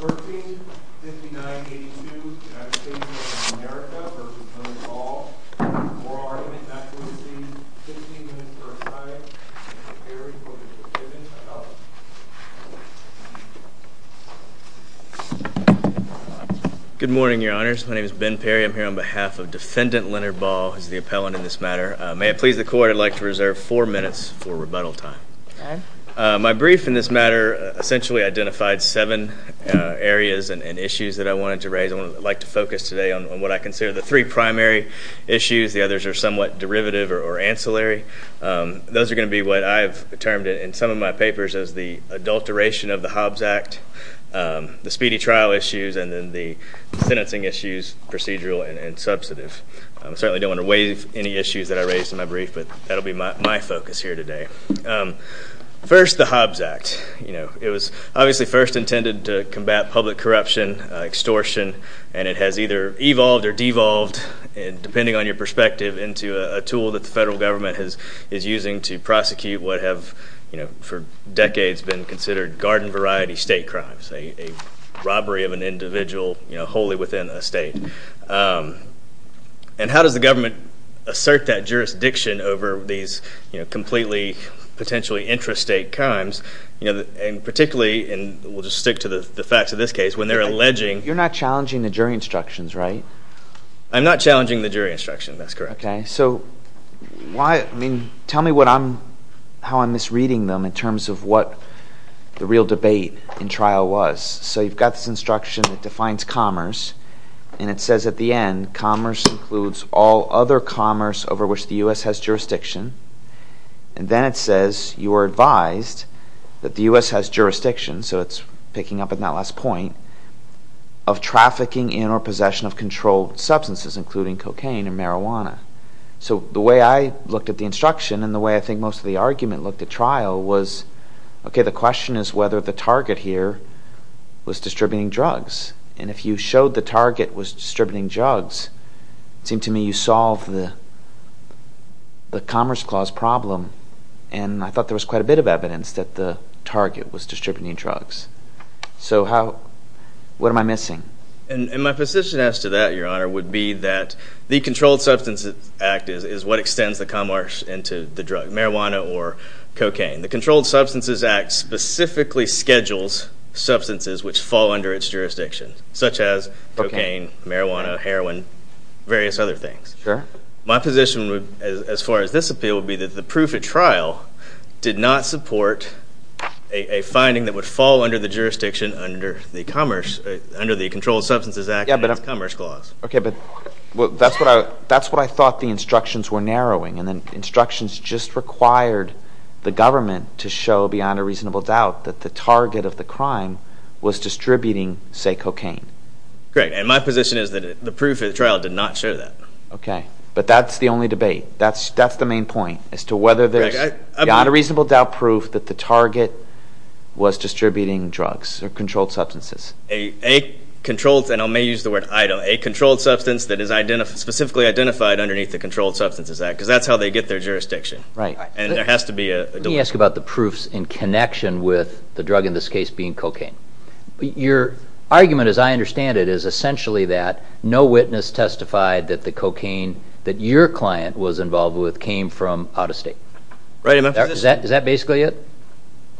13.59.82 United States v. America v. Leonard Baugh Moral Argument Accusation 15 minutes per side Mr. Perry v. Defendant Appellant Good morning, your honors. My name is Ben Perry. I'm here on behalf of Defendant Leonard Baugh, who is the appellant in this matter. May it please the court, I'd like to reserve four minutes for rebuttal time. My brief in this matter essentially identified seven areas and issues that I wanted to raise. I'd like to focus today on what I consider the three primary issues. The others are somewhat derivative or ancillary. Those are going to be what I've termed in some of my papers as the adulteration of the Hobbs Act, the speedy trial issues, and then the sentencing issues, procedural and substantive. I certainly don't want to waive any issues that I raised in my brief, but that will be my focus here today. First, the Hobbs Act. It was obviously first intended to combat public corruption, extortion, and it has either evolved or devolved, depending on your perspective, into a tool that the federal government is using to prosecute what have for decades been considered garden-variety state crimes, a robbery of an individual wholly within a state. And how does the government assert that jurisdiction over these completely potentially intrastate crimes, particularly, and we'll just stick to the facts of this case, when they're alleging... You're not challenging the jury instructions, right? I'm not challenging the jury instructions, that's correct. Okay, so tell me how I'm misreading them in terms of what the real debate in trial was. So you've got this instruction that defines commerce, and it says at the end, commerce includes all other commerce over which the U.S. has jurisdiction. And then it says, you are advised that the U.S. has jurisdiction, so it's picking up on that last point, of trafficking in or possession of controlled substances, including cocaine and marijuana. So the way I looked at the instruction, and the way I think most of the argument looked at trial, was, okay, the question is whether the target here was distributing drugs. And if you showed the target was distributing drugs, it seemed to me you solved the commerce clause problem, and I thought there was quite a bit of evidence that the target was distributing drugs. So what am I missing? And my position as to that, Your Honor, would be that the Controlled Substances Act is what extends the commerce into the drug, marijuana or cocaine. The Controlled Substances Act specifically schedules substances which fall under its jurisdiction, such as cocaine, marijuana, heroin, various other things. My position as far as this appeal would be that the proof at trial did not support a finding that would fall under the jurisdiction under the Controlled Substances Act and its commerce clause. Okay, but that's what I thought the instructions were narrowing, and the instructions just required the government to show beyond a reasonable doubt that the target of the crime was distributing, say, cocaine. Great, and my position is that the proof at trial did not show that. Okay, but that's the only debate. That's the main point, as to whether there's beyond a reasonable doubt proof that the target was distributing drugs or controlled substances. A controlled substance, and I may use the word item, a controlled substance that is specifically identified underneath the Controlled Substances Act, because that's how they get their jurisdiction, and there has to be a delivery. Let me ask you about the proofs in connection with the drug in this case being cocaine. Your argument, as I understand it, is essentially that no witness testified that the cocaine that your client was involved with came from out of state. Is that basically it?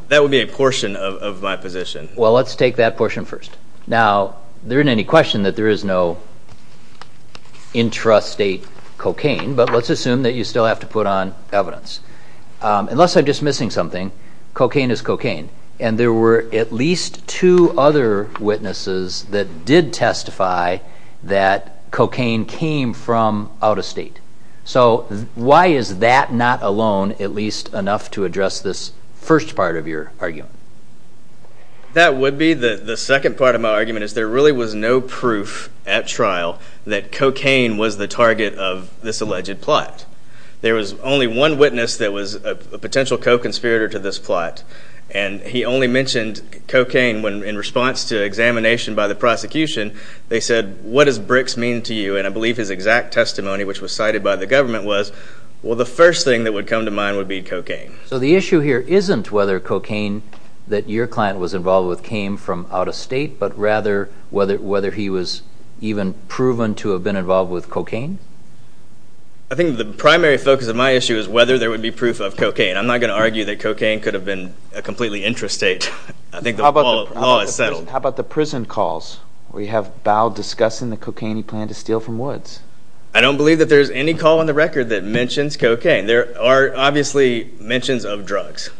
That would be a portion of my position. Well, let's take that portion first. Now, there isn't any question that there is no intrastate cocaine, but let's assume that you still have to put on evidence. Unless I'm just missing something, cocaine is cocaine, and there were at least two other witnesses that did testify that cocaine came from out of state. So why is that not alone, at least enough to address this first part of your argument? That would be the second part of my argument, is there really was no proof at trial that cocaine was the target of this alleged plot. There was only one witness that was a potential co-conspirator to this plot, and he only mentioned cocaine in response to examination by the prosecution. They said, what does BRICS mean to you? And I believe his exact testimony, which was cited by the government, was, well, the first thing that would come to mind would be cocaine. So the issue here isn't whether cocaine that your client was involved with came from out of state, but rather whether he was even proven to have been involved with cocaine? I think the primary focus of my issue is whether there would be proof of cocaine. I'm not going to argue that cocaine could have been a completely intrastate. I think the law is settled. How about the prison calls? We have Bow discussing the cocaine he planned to steal from Woods. I don't believe that there's any call on the record that mentions cocaine. There are obviously mentions of drugs,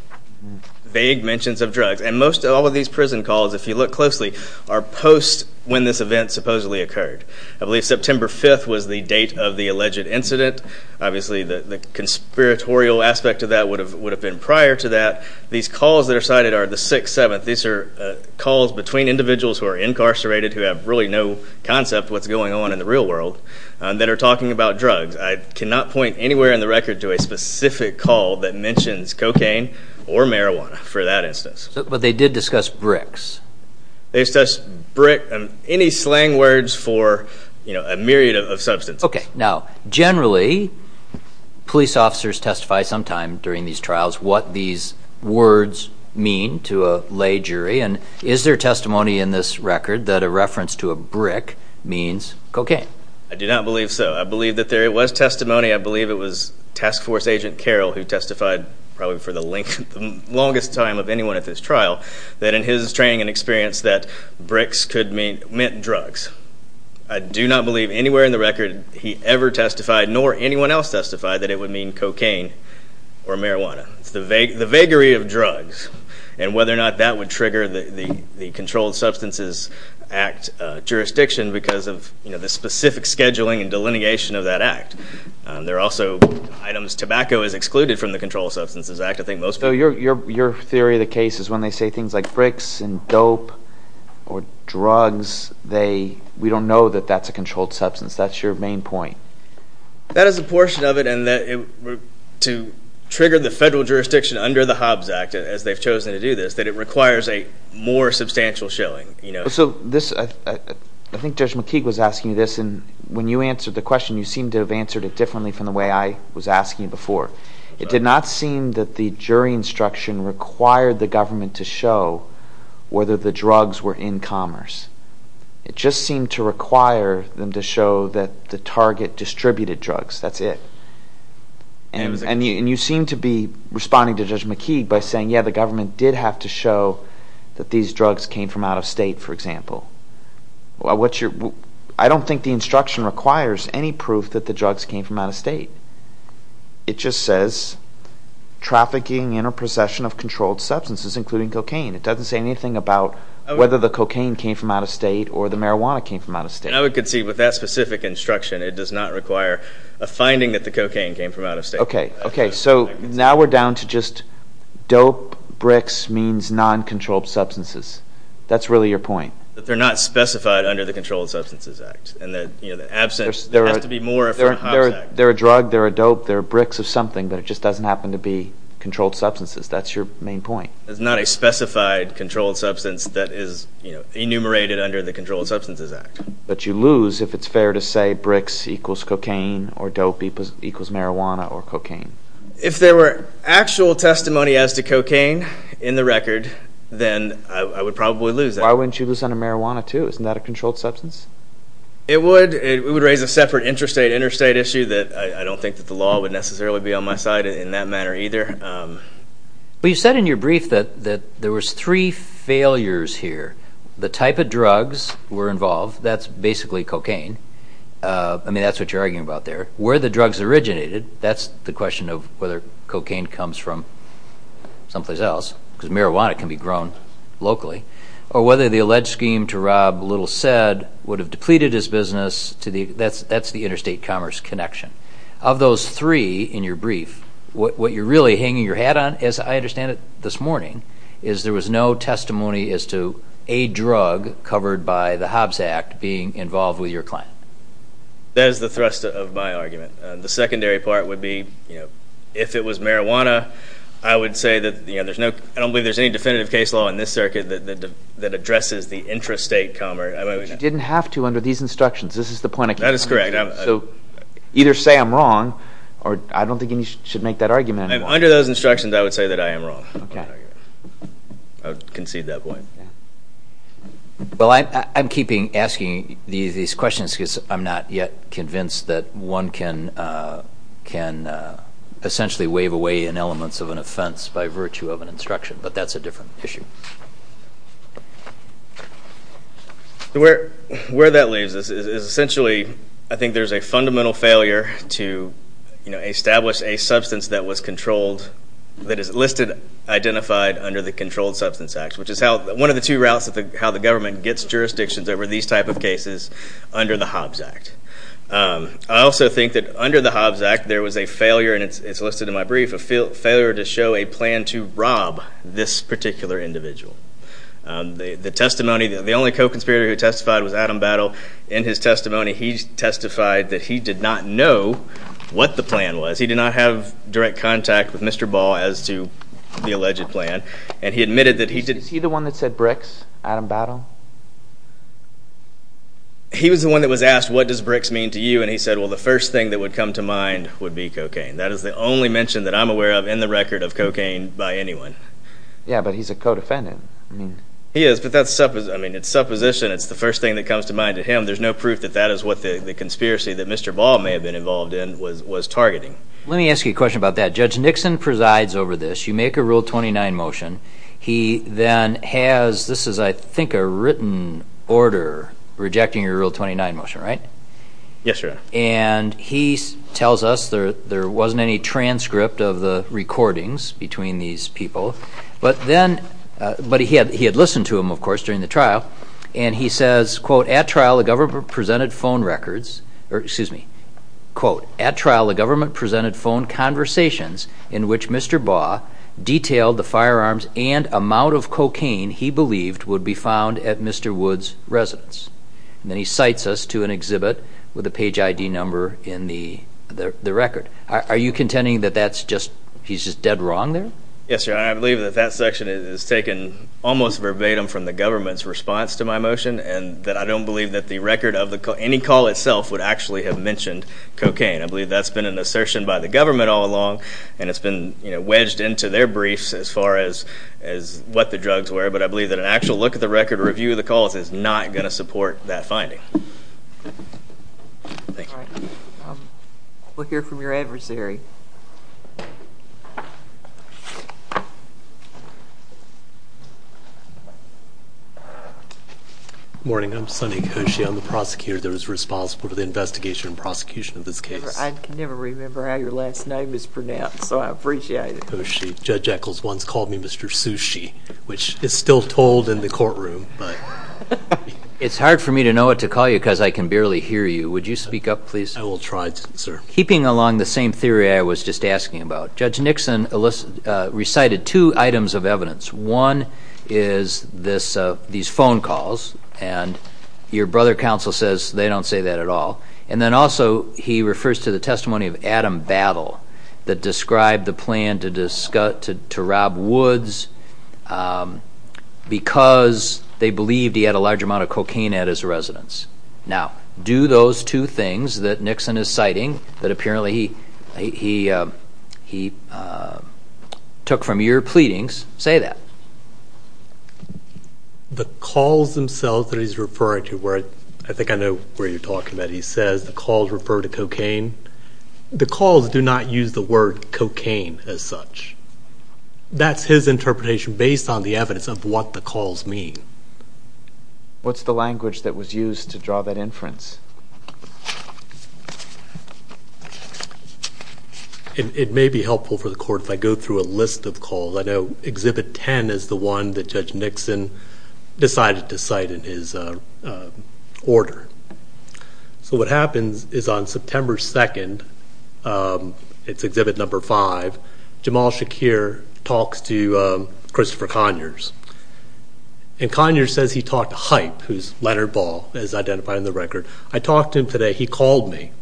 vague mentions of drugs. And most of all of these prison calls, if you look closely, are post when this event supposedly occurred. I believe September 5th was the date of the alleged incident. Obviously the conspiratorial aspect of that would have been prior to that. These calls that are cited are the 6th, 7th. These are calls between individuals who are incarcerated, who have really no concept of what's going on in the real world, that are talking about drugs. I cannot point anywhere on the record to a specific call that mentions cocaine or marijuana for that instance. But they did discuss bricks. They discussed brick and any slang words for a myriad of substances. Now, generally, police officers testify sometime during these trials what these words mean to a lay jury. And is there testimony in this record that a reference to a brick means cocaine? I do not believe so. I believe that there was testimony. I believe it was Task Force Agent Carroll, who testified probably for the longest time of anyone at this trial, that in his training and experience that bricks meant drugs. I do not believe anywhere in the record he ever testified, nor anyone else testified, that it would mean cocaine or marijuana. It's the vagary of drugs. And whether or not that would trigger the Controlled Substances Act jurisdiction because of the specific scheduling and delineation of that act. There are also items tobacco is excluded from the Controlled Substances Act, I think most people do. So your theory of the case is when they say things like bricks and dope or drugs, we don't know that that's a controlled substance. That's your main point. That is a portion of it. And to trigger the federal jurisdiction under the Hobbs Act, as they've chosen to do this, that it requires a more substantial showing. So this, I think Judge McKeague was asking you this. And when you answered the question, you seemed to have answered it differently from the way I was asking you before. It did not seem that the jury instruction required the government to show whether the drugs were in commerce. It just seemed to require them to show that the target distributed drugs. That's it. And you seem to be responding to Judge McKeague by saying, yeah, the government did have to show that these drugs came from out of state, for example. I don't think the instruction requires any proof that the drugs came from out of state. It just says trafficking in or possession of controlled substances, including cocaine. It doesn't say anything about whether the cocaine came from out of state or the marijuana came from out of state. I would concede with that specific instruction, it does not require a finding that the cocaine came from out of state. Okay. So now we're down to just dope bricks means non-controlled substances. That's really your point. But they're not specified under the Controlled Substances Act. And the absence has to be more from Hobbs Act. They're a drug. They're a dope. They're bricks of something, but it just doesn't happen to be controlled substances. That's your main point. It's not a specified controlled substance that is enumerated under the Controlled Substances Act. But you lose if it's fair to say bricks equals cocaine or dope equals marijuana or cocaine. If there were actual testimony as to cocaine in the record, then I would probably lose that. Why wouldn't you lose under marijuana too? Isn't that a controlled substance? It would. It would raise a separate interstate issue that I don't think that the law would necessarily be on my side in that manner either. But you said in your brief that there was three failures here. The type of drugs were involved. That's basically cocaine. I mean, that's what you're arguing about there. Where the drugs originated, that's the question of whether cocaine comes from someplace else because marijuana can be grown locally. Or whether the alleged scheme to rob Little Said would have depleted his business. That's the interstate commerce connection. Of those three in your brief, what you're really hanging your hat on, as I understand it, this morning, is there was no testimony as to a drug covered by the Hobbs Act being involved with your client. That is the thrust of my argument. The secondary part would be if it was marijuana, I would say that there's no definitive case law in this circuit that addresses the interstate commerce. But you didn't have to under these instructions. This is the point I came to. That is correct. Either say I'm wrong, or I don't think you should make that argument anymore. Under those instructions, I would say that I am wrong. I would concede that point. Well, I'm keeping asking these questions because I'm not yet convinced that one can essentially wave away an element of an offense by virtue of an instruction, but that's a different issue. Where that leaves us is essentially, I think there's a fundamental failure to establish a substance that was controlled, that is listed, identified under the Controlled Substance Act, which is one of the two routes of how the government gets jurisdictions over these type of cases under the Hobbs Act. I also think that under the Hobbs Act, there was a failure, and it's listed in my brief, a failure to show a plan to rob this particular individual. The testimony, the only co-conspirator who testified was Adam Battle. In his testimony, he testified that he did not know what the plan was. He did not have direct contact with Mr. Ball as to the alleged plan, and he admitted that he did... Is he the one that said bricks, Adam Battle? He was the one that was asked, what does bricks mean to you? And he said, well, the first thing that would come to mind would be cocaine. That is the only mention that I'm aware of in the record of cocaine by anyone. Yeah, but he's a co-defendant. He is, but that's supposition. It's the first thing that comes to mind to him. There's no proof that that is what the conspiracy that Mr. Ball may have been involved in was targeting. Let me ask you a question about that. Judge Nixon presides over this. You make a Rule 29 motion. He then has, this is, I think, a written order rejecting your Rule 29 motion, right? Yes, Your Honor. And he tells us there wasn't any transcript of the recordings between these people. But then, but he had listened to them, of course, during the trial, and he says, quote, at trial the government presented phone records, or excuse me, quote, at trial the government presented phone conversations in which Mr. Ball detailed the firearms and amount of cocaine he believed would be found at Mr. Wood's residence. And then he cites us to an exhibit with a page ID number in the record. Are you contending that that's just, he's just dead wrong there? Yes, Your Honor. I believe that that section is taken almost verbatim from the government's response to my motion and that I don't believe that the record of any call itself would actually have mentioned cocaine. I believe that's been an assertion by the government all along, and it's been wedged into their briefs as far as what the drugs were. But I believe that an actual look at the record or review of the calls is not going to support that finding. Thank you. We'll hear from your adversary. Good morning. I'm Sonny Koshy. I'm the prosecutor that was responsible for the investigation and prosecution of this case. I can never remember how your last name is pronounced, so I appreciate it. I'm Sonny Koshy. Judge Echols once called me Mr. Sushi, which is still told in the courtroom. It's hard for me to know what to call you because I can barely hear you. Would you speak up, please? I will try, sir. Keeping along the same theory I was just asking about, Judge Nixon recited two items of evidence. One is these phone calls, and your brother counsel says they don't say that at all. And then also he refers to the testimony of Adam Battle that described the plan to rob Woods because they believed he had a large amount of cocaine at his residence. Now, do those two things that Nixon is citing, that apparently he took from your pleadings, say that? The calls themselves that he's referring to, where I think I know where you're talking about, he says the calls refer to cocaine. The calls do not use the word cocaine as such. That's his interpretation based on the evidence of what the calls mean. What's the language that was used to draw that inference? It may be helpful for the court if I go through a list of calls. I know Exhibit 10 is the one that Judge Nixon decided to cite in his order. So what happens is on September 2nd, it's Exhibit 5, Jamal Shakir talks to Christopher Conyers. And Conyers says he talked to Hype, who's Leonard Ball, as identified in the record. I talked to him today. He called me.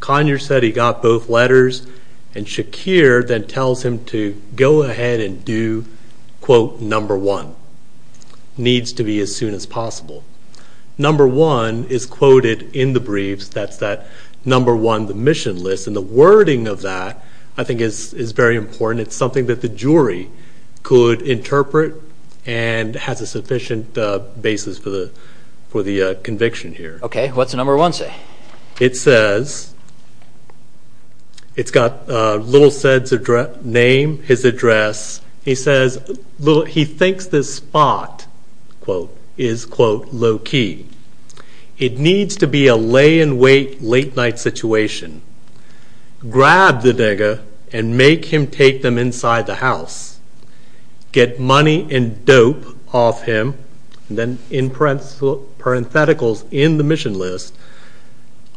Conyers said he got both letters. And Shakir then tells him to go ahead and do, quote, number one. Needs to be as soon as possible. Number one is quoted in the briefs. That's that number one, the mission list. And the wording of that, I think, is very important. It's something that the jury could interpret and has a sufficient basis for the conviction here. Okay. What's number one say? It says, it's got Little Said's name, his address. He says he thinks this spot, quote, is, quote, low key. It needs to be a lay and wait late night situation. Grab the digger and make him take them inside the house. Get money and dope off him. And then in parentheticals in the mission list,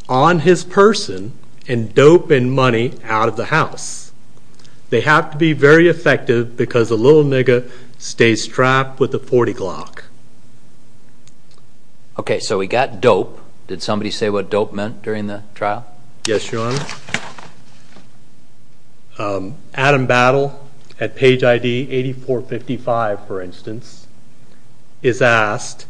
on his person and dope and money out of the house. They have to be very effective because the little nigga stays trapped with the 40 clock. Okay. So we got dope. Did somebody say what dope meant during the trial? Yes, Your Honor. Adam Battle at page ID 8455, for instance, is asked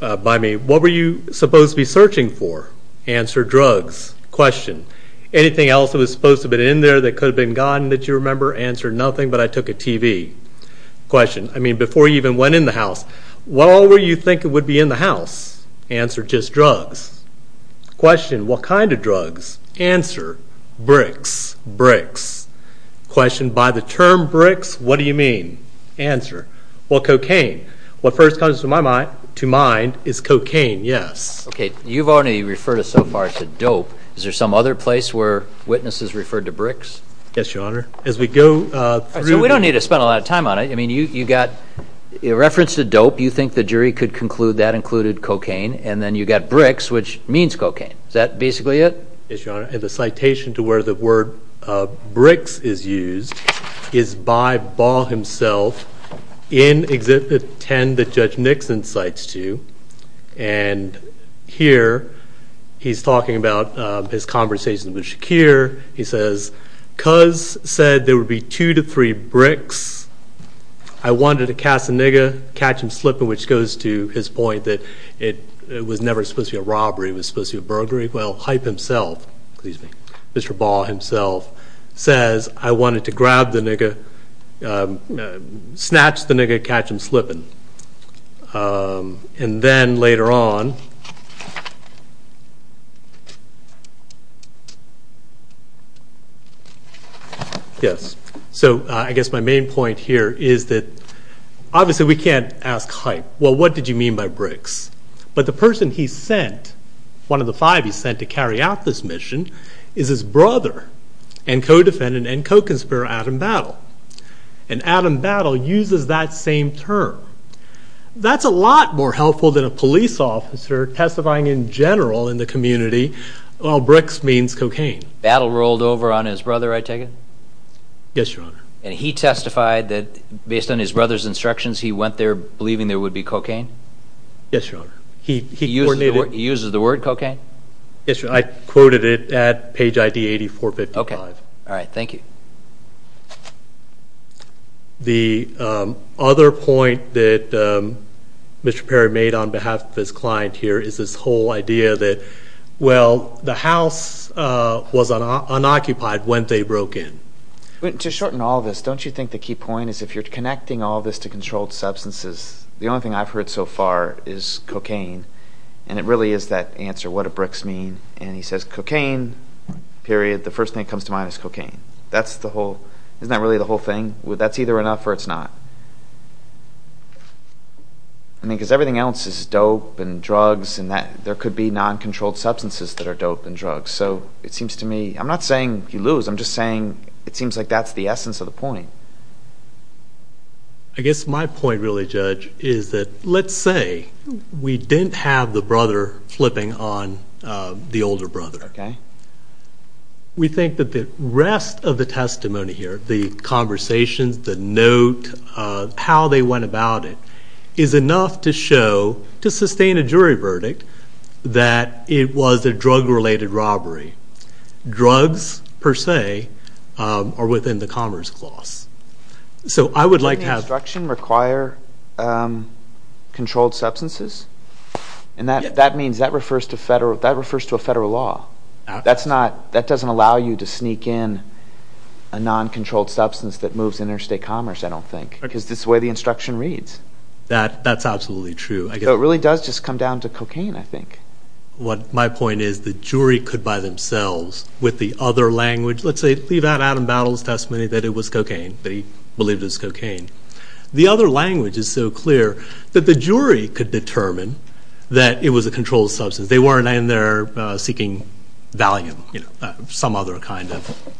by me, what were you supposed to be searching for? Answer, drugs. Question, anything else that was supposed to have been in there that could have been gone that you remember? Answer, nothing, but I took a TV. Question, I mean, before you even went in the house, what all were you thinking would be in the house? Answer, just drugs. Question, what kind of drugs? Answer, bricks. Bricks. Question, by the term bricks, what do you mean? Answer, well, cocaine. What first comes to mind is cocaine, yes. Okay. You've already referred us so far to dope. Is there some other place where witnesses referred to bricks? Yes, Your Honor. As we go through. So we don't need to spend a lot of time on it. I mean, you got reference to dope. You think the jury could conclude that included cocaine. And then you got bricks, which means cocaine. Is that basically it? Yes, Your Honor. And the citation to where the word bricks is used is by Ball himself in Exhibit 10 that Judge Nixon cites to you. And here he's talking about his conversations with Shakir. He says, Cuz said there would be two to three bricks. I wanted to catch the nigger, catch him slipping, which goes to his point that it was never supposed to be a robbery. It was supposed to be a burglary. Well, Hype himself, excuse me, Mr. Ball himself says, I wanted to grab the nigger, snatch the nigger, catch him slipping. And then later on. Yes. So I guess my main point here is that obviously we can't ask Hype, well, what did you mean by bricks? But the person he sent, one of the five he sent to carry out this mission, is his brother and co-defendant and co-conspirator Adam Battle. And Adam Battle uses that same term. That's a lot more helpful than a police officer testifying in general in the community, well, bricks means cocaine. Battle rolled over on his brother, I take it? Yes, Your Honor. And he testified that based on his brother's instructions, he went there believing there would be cocaine? Yes, Your Honor. He used the word cocaine? I quoted it at page ID 8455. Okay. All right, thank you. The other point that Mr. Perry made on behalf of his client here is this whole idea that, well, the house was unoccupied when they broke in. To shorten all this, don't you think the key point is if you're connecting all this to controlled substances, the only thing I've heard so far is cocaine, and it really is that answer, what do bricks mean? And he says cocaine, period. The first thing that comes to mind is cocaine. That's the whole, isn't that really the whole thing? That's either enough or it's not. I mean, because everything else is dope and drugs and there could be non-controlled substances that are dope and drugs. So it seems to me, I'm not saying you lose, I'm just saying it seems like that's the essence of the point. I guess my point really, Judge, is that let's say we didn't have the brother flipping on the older brother. Okay. We think that the rest of the testimony here, the conversations, the note, how they went about it, is enough to show, to sustain a jury verdict, that it was a drug-related robbery. Drugs, per se, are within the commerce clause. So I would like to have... Doesn't the instruction require controlled substances? And that means, that refers to a federal law. That doesn't allow you to sneak in a non-controlled substance that moves interstate commerce, I don't think. Because that's the way the instruction reads. That's absolutely true. So it really does just come down to cocaine, I think. My point is, the jury could by themselves, with the other language, let's say, leave out Adam Battle's testimony that it was cocaine, that he believed it was cocaine. The other language is so clear that the jury could determine that it was a controlled substance. They weren't in there seeking value, some other kind of.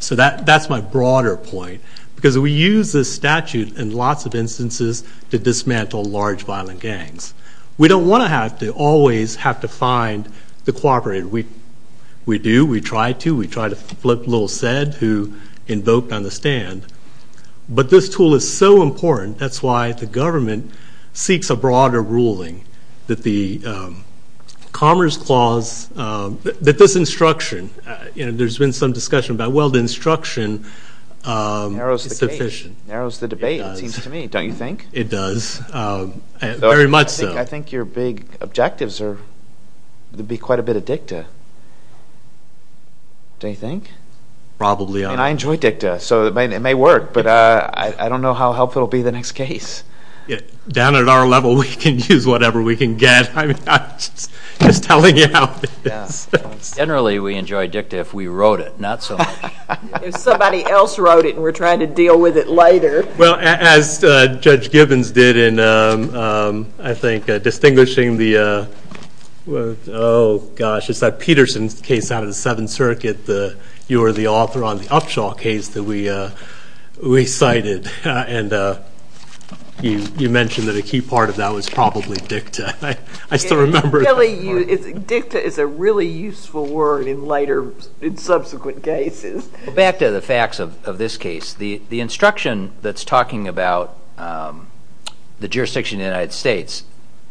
So that's my broader point. Because we use this statute in lots of instances to dismantle large violent gangs. We don't want to have to always have to find the cooperator. We do. We try to. We try to flip Little Said, who invoked on the stand. But this tool is so important, that's why the government seeks a broader ruling that the commerce clause, that this instruction, you know, there's been some discussion about, well, the instruction is sufficient. Narrows the debate, it seems to me, don't you think? It does. Very much so. I think your big objectives would be quite a bit of dicta, don't you think? Probably. And I enjoy dicta, so it may work, but I don't know how helpful it will be in the next case. Down at our level, we can use whatever we can get. I'm just telling you how it is. Generally, we enjoy dicta if we wrote it, not so much. If somebody else wrote it and we're trying to deal with it later. Well, as Judge Gibbons did in, I think, distinguishing the, oh, gosh, it's that Peterson case out of the Seventh Circuit, you were the author on the Upshaw case that we cited. And you mentioned that a key part of that was probably dicta. I still remember. Really, dicta is a really useful word in later, in subsequent cases. Back to the facts of this case. The instruction that's talking about the jurisdiction of the United States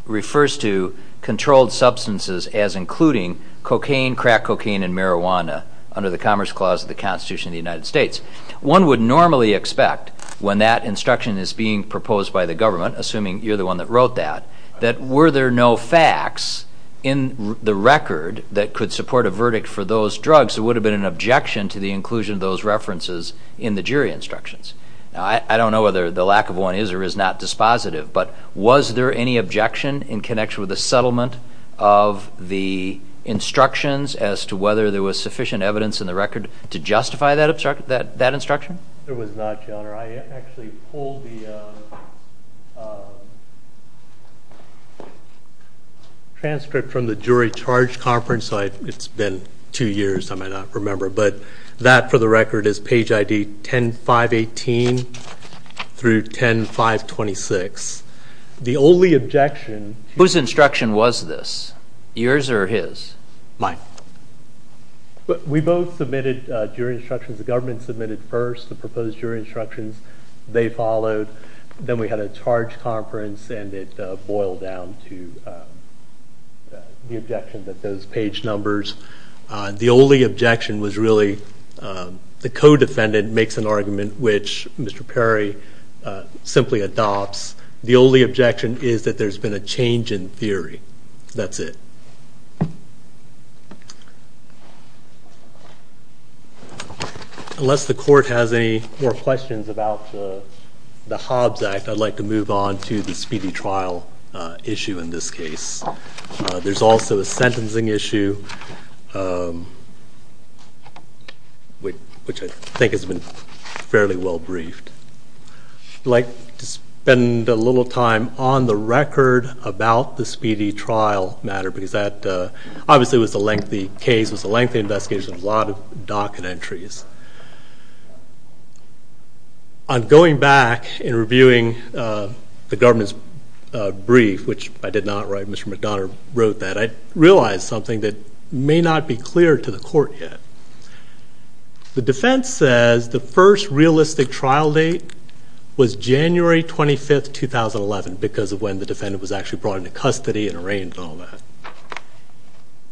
refers to controlled substances as including cocaine, crack cocaine, and marijuana under the Commerce Clause of the Constitution of the United States. One would normally expect when that instruction is being proposed by the government, assuming you're the one that wrote that, that were there no facts in the record that could support a verdict for those drugs, perhaps there would have been an objection to the inclusion of those references in the jury instructions. Now, I don't know whether the lack of one is or is not dispositive, but was there any objection in connection with the settlement of the instructions as to whether there was sufficient evidence in the record to justify that instruction? There was not, Your Honor. I actually pulled the transcript from the jury charge conference. It's been two years. I might not remember. But that, for the record, is page ID 10-518 through 10-526. The only objection to- Whose instruction was this? Yours or his? Mine. We both submitted jury instructions. The government submitted first the proposed jury instructions. They followed. Then we had a charge conference, and it boiled down to the objection that those page numbers- the only objection was really the co-defendant makes an argument which Mr. Perry simply adopts. The only objection is that there's been a change in theory. That's it. Thank you. Unless the court has any more questions about the Hobbs Act, I'd like to move on to the speedy trial issue in this case. There's also a sentencing issue which I think has been fairly well briefed. I'd like to spend a little time on the record about the speedy trial matter because that obviously was a lengthy case, was a lengthy investigation, a lot of docket entries. On going back and reviewing the government's brief, which I did not write, Mr. McDonough wrote that, I realized something that may not be clear to the court yet. The defense says the first realistic trial date was January 25, 2011, because of when the defendant was actually brought into custody and arraigned and all that.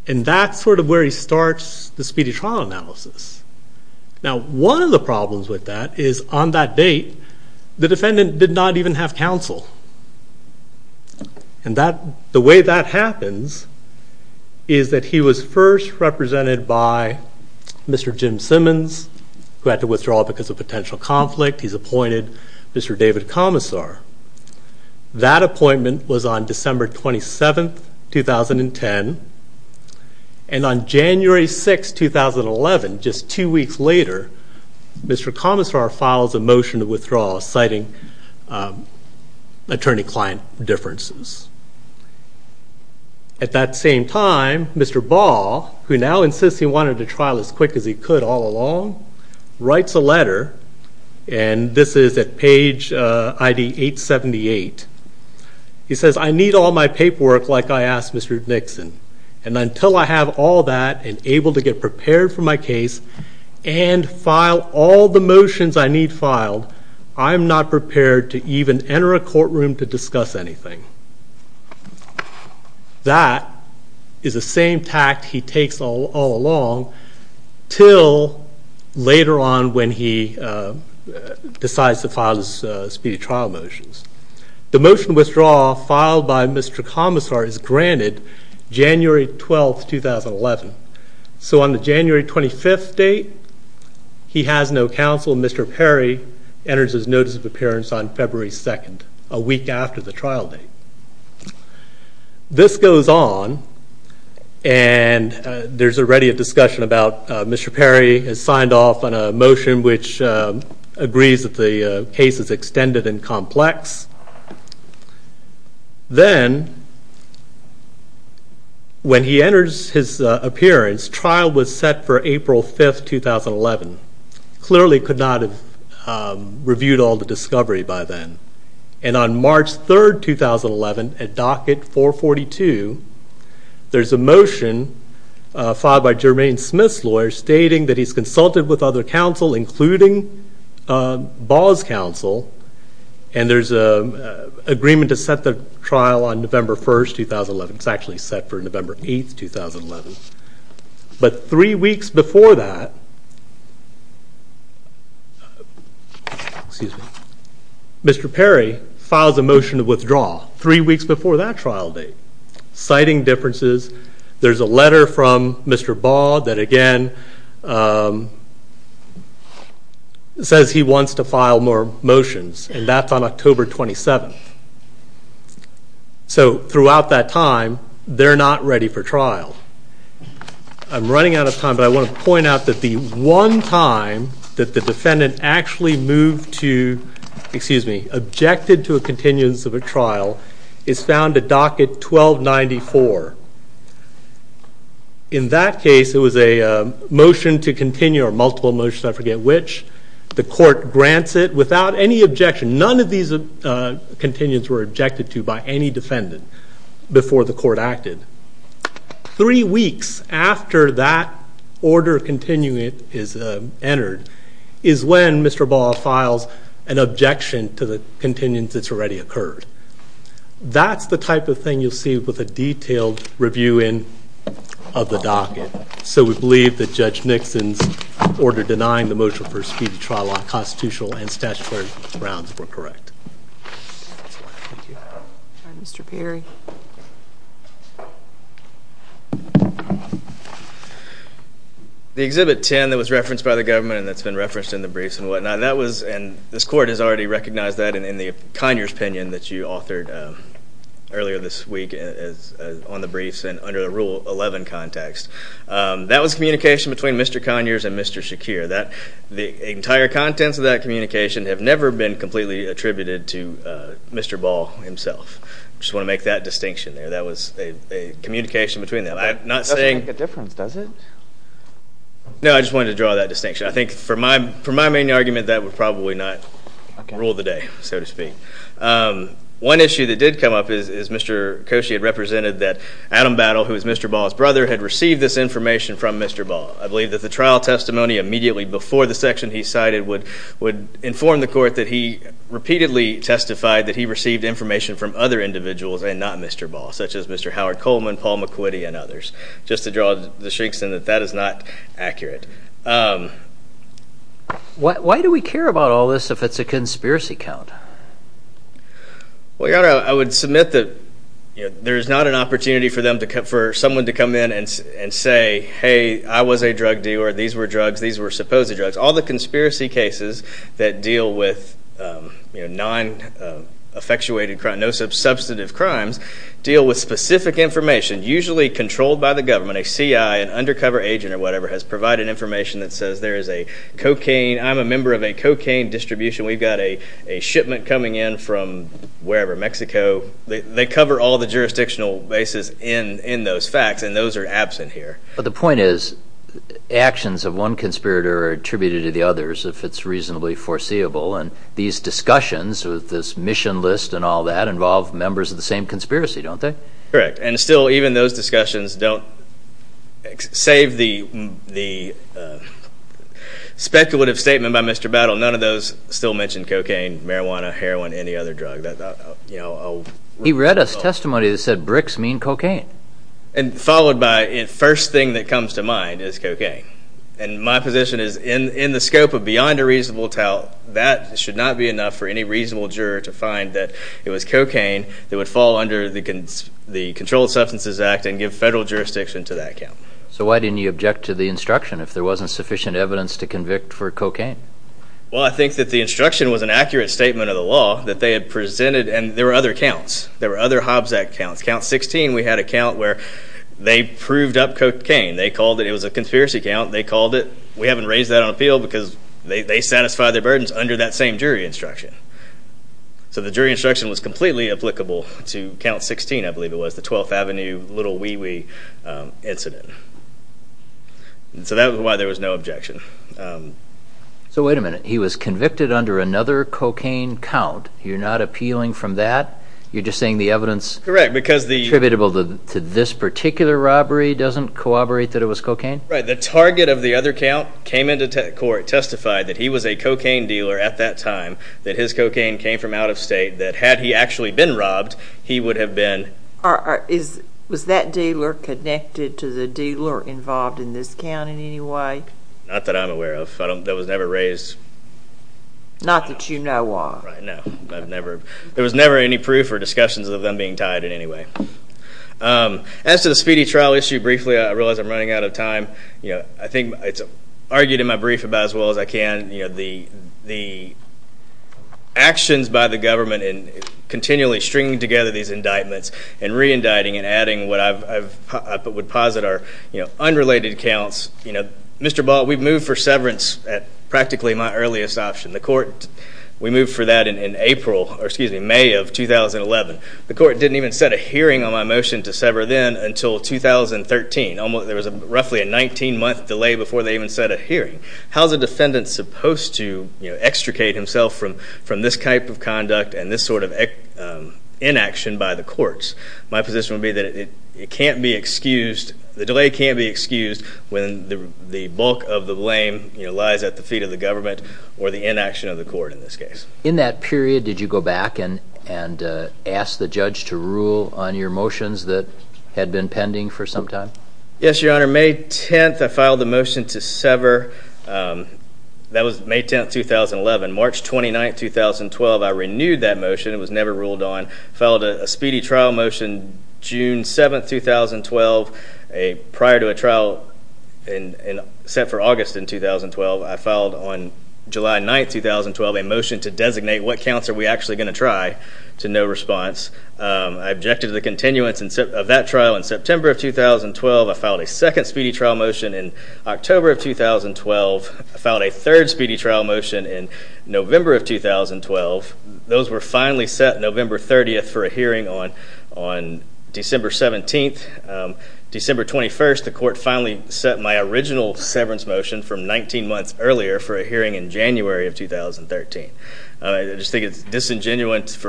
And that's sort of where he starts the speedy trial analysis. Now, one of the problems with that is on that date, the defendant did not even have counsel. And the way that happens is that he was first represented by Mr. Jim Simmons, who had to withdraw because of potential conflict. He's appointed Mr. David Commissar. That appointment was on December 27, 2010. And on January 6, 2011, just two weeks later, Mr. Commissar files a motion to withdraw, citing attorney-client differences. At that same time, Mr. Ball, who now insists he wanted a trial as quick as he could all along, writes a letter, and this is at page ID 878. He says, I need all my paperwork like I asked Mr. Nixon, and until I have all that and able to get prepared for my case and file all the motions I need filed, I am not prepared to even enter a courtroom to discuss anything. That is the same tact he takes all along until later on when he decides to file his speedy trial motions. The motion to withdraw filed by Mr. Commissar is granted January 12, 2011. So on the January 25 date, he has no counsel. Mr. Perry enters his notice of appearance on February 2, a week after the trial date. This goes on, and there's already a discussion about Mr. Perry has signed off on a motion which agrees that the case is extended and complex. Then, when he enters his appearance, trial was set for April 5, 2011. Clearly could not have reviewed all the discovery by then. And on March 3, 2011, at docket 442, there's a motion filed by Jermaine Smith's lawyer stating that he's consulted with other counsel, including Ball's counsel, and there's an agreement to set the trial on November 1, 2011. It's actually set for November 8, 2011. But three weeks before that, Mr. Perry files a motion to withdraw, three weeks before that trial date. Citing differences, there's a letter from Mr. Ball that, again, says he wants to file more motions, and that's on October 27. So throughout that time, they're not ready for trial. I'm running out of time, but I want to point out that the one time that the defendant actually moved to, excuse me, objected to a continuance of a trial, is found at docket 1294. In that case, it was a motion to continue, or multiple motions, I forget which. The court grants it without any objection. None of these continuance were objected to by any defendant before the court acted. Three weeks after that order of continuing is entered is when Mr. Ball files an objection to the continuance that's already occurred. That's the type of thing you'll see with a detailed review of the docket. So we believe that Judge Nixon's order denying the motion for a speedy trial on constitutional and statutory grounds were correct. All right, Mr. Perry. The Exhibit 10 that was referenced by the government and that's been referenced in the briefs and whatnot, and this court has already recognized that in the Conyers opinion that you authored earlier this week on the briefs and under the Rule 11 context, that was communication between Mr. Conyers and Mr. Shakir. The entire contents of that communication have never been completely attributed to Mr. Ball himself. I just want to make that distinction there. That was a communication between them. That doesn't make a difference, does it? No, I just wanted to draw that distinction. I think for my main argument, that would probably not rule the day, so to speak. One issue that did come up is Mr. Koshy had represented that Adam Battle, who is Mr. Ball's brother, had received this information from Mr. Ball. I believe that the trial testimony immediately before the section he cited would inform the court that he repeatedly testified that he received information from other individuals and not Mr. Ball, such as Mr. Howard Coleman, Paul McQuitty, and others, just to draw the streaks in that that is not accurate. Why do we care about all this if it's a conspiracy count? I would submit that there is not an opportunity for someone to come in and say, hey, I was a drug dealer, these were drugs, these were supposed drugs. All the conspiracy cases that deal with non-affectuated, no-substantive crimes deal with specific information, usually controlled by the government. A CI, an undercover agent or whatever, has provided information that says there is a cocaine, I'm a member of a cocaine distribution, we've got a shipment coming in from wherever, Mexico. They cover all the jurisdictional bases in those facts, and those are absent here. But the point is, actions of one conspirator are attributed to the others if it's reasonably foreseeable, and these discussions with this mission list and all that involve members of the same conspiracy, don't they? Correct, and still even those discussions don't, save the speculative statement by Mr. Battle, none of those still mention cocaine, marijuana, heroin, any other drug. He read a testimony that said bricks mean cocaine. And followed by, the first thing that comes to mind is cocaine. And my position is, in the scope of beyond a reasonable doubt, that should not be enough for any reasonable juror to find that it was cocaine that would fall under the Controlled Substances Act and give federal jurisdiction to that count. So why didn't you object to the instruction if there wasn't sufficient evidence to convict for cocaine? Well, I think that the instruction was an accurate statement of the law that they had presented, and there were other counts. There were other Hobbs Act counts. Count 16, we had a count where they proved up cocaine. They called it, it was a conspiracy count, they called it. We haven't raised that on appeal because they satisfy their burdens under that same jury instruction. So the jury instruction was completely applicable to Count 16, I believe it was, the 12th Avenue Little Wee Wee incident. So that was why there was no objection. So wait a minute. He was convicted under another cocaine count. You're not appealing from that? You're just saying the evidence attributable to this particular robbery doesn't corroborate that it was cocaine? Right. The target of the other count came into court, testified that he was a cocaine dealer at that time, that his cocaine came from out of state, that had he actually been robbed, he would have been. Was that dealer connected to the dealer involved in this count in any way? Not that I'm aware of. That was never raised. Not that you know of. No. There was never any proof or discussions of them being tied in any way. As to the speedy trial issue, briefly, I realize I'm running out of time. I think it's argued in my brief about as well as I can, the actions by the government in continually stringing together these indictments and re-indicting and adding what I would posit are unrelated counts. Mr. Ball, we've moved for severance at practically my earliest option. We moved for that in May of 2011. The court didn't even set a hearing on my motion to sever then until 2013. There was roughly a 19-month delay before they even set a hearing. How is a defendant supposed to extricate himself from this type of conduct and this sort of inaction by the courts? My position would be that it can't be excused, the delay can't be excused when the bulk of the blame lies at the feet of the government or the inaction of the court in this case. In that period, did you go back and ask the judge to rule on your motions that had been pending for some time? Yes, Your Honor. May 10th, I filed a motion to sever. That was May 10th, 2011. March 29th, 2012, I renewed that motion. It was never ruled on. I filed a speedy trial motion June 7th, 2012. Prior to a trial set for August in 2012, I filed on July 9th, 2012, a motion to designate what counts are we actually going to try to no response. I objected to the continuance of that trial in September of 2012. I filed a second speedy trial motion in October of 2012. I filed a third speedy trial motion in November of 2012. Those were finally set November 30th for a hearing on December 17th. December 21st, the court finally set my original severance motion from 19 months earlier for a hearing in January of 2013. I just think it's disingenuous,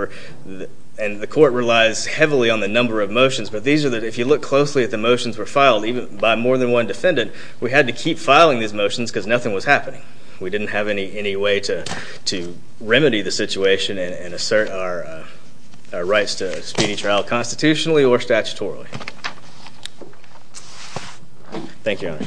and the court relies heavily on the number of motions, but if you look closely at the motions that were filed by more than one defendant, we had to keep filing these motions because nothing was happening. We didn't have any way to remedy the situation and assert our rights to a speedy trial constitutionally or statutorily. Thank you, Your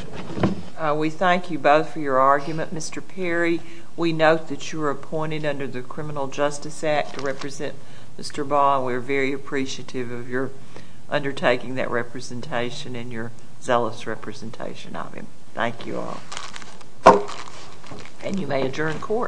Honor. We thank you both for your argument, Mr. Perry. We note that you were appointed under the Criminal Justice Act to represent Mr. Ball, and we are very appreciative of your undertaking that representation and your zealous representation of him. Thank you all. And you may adjourn court.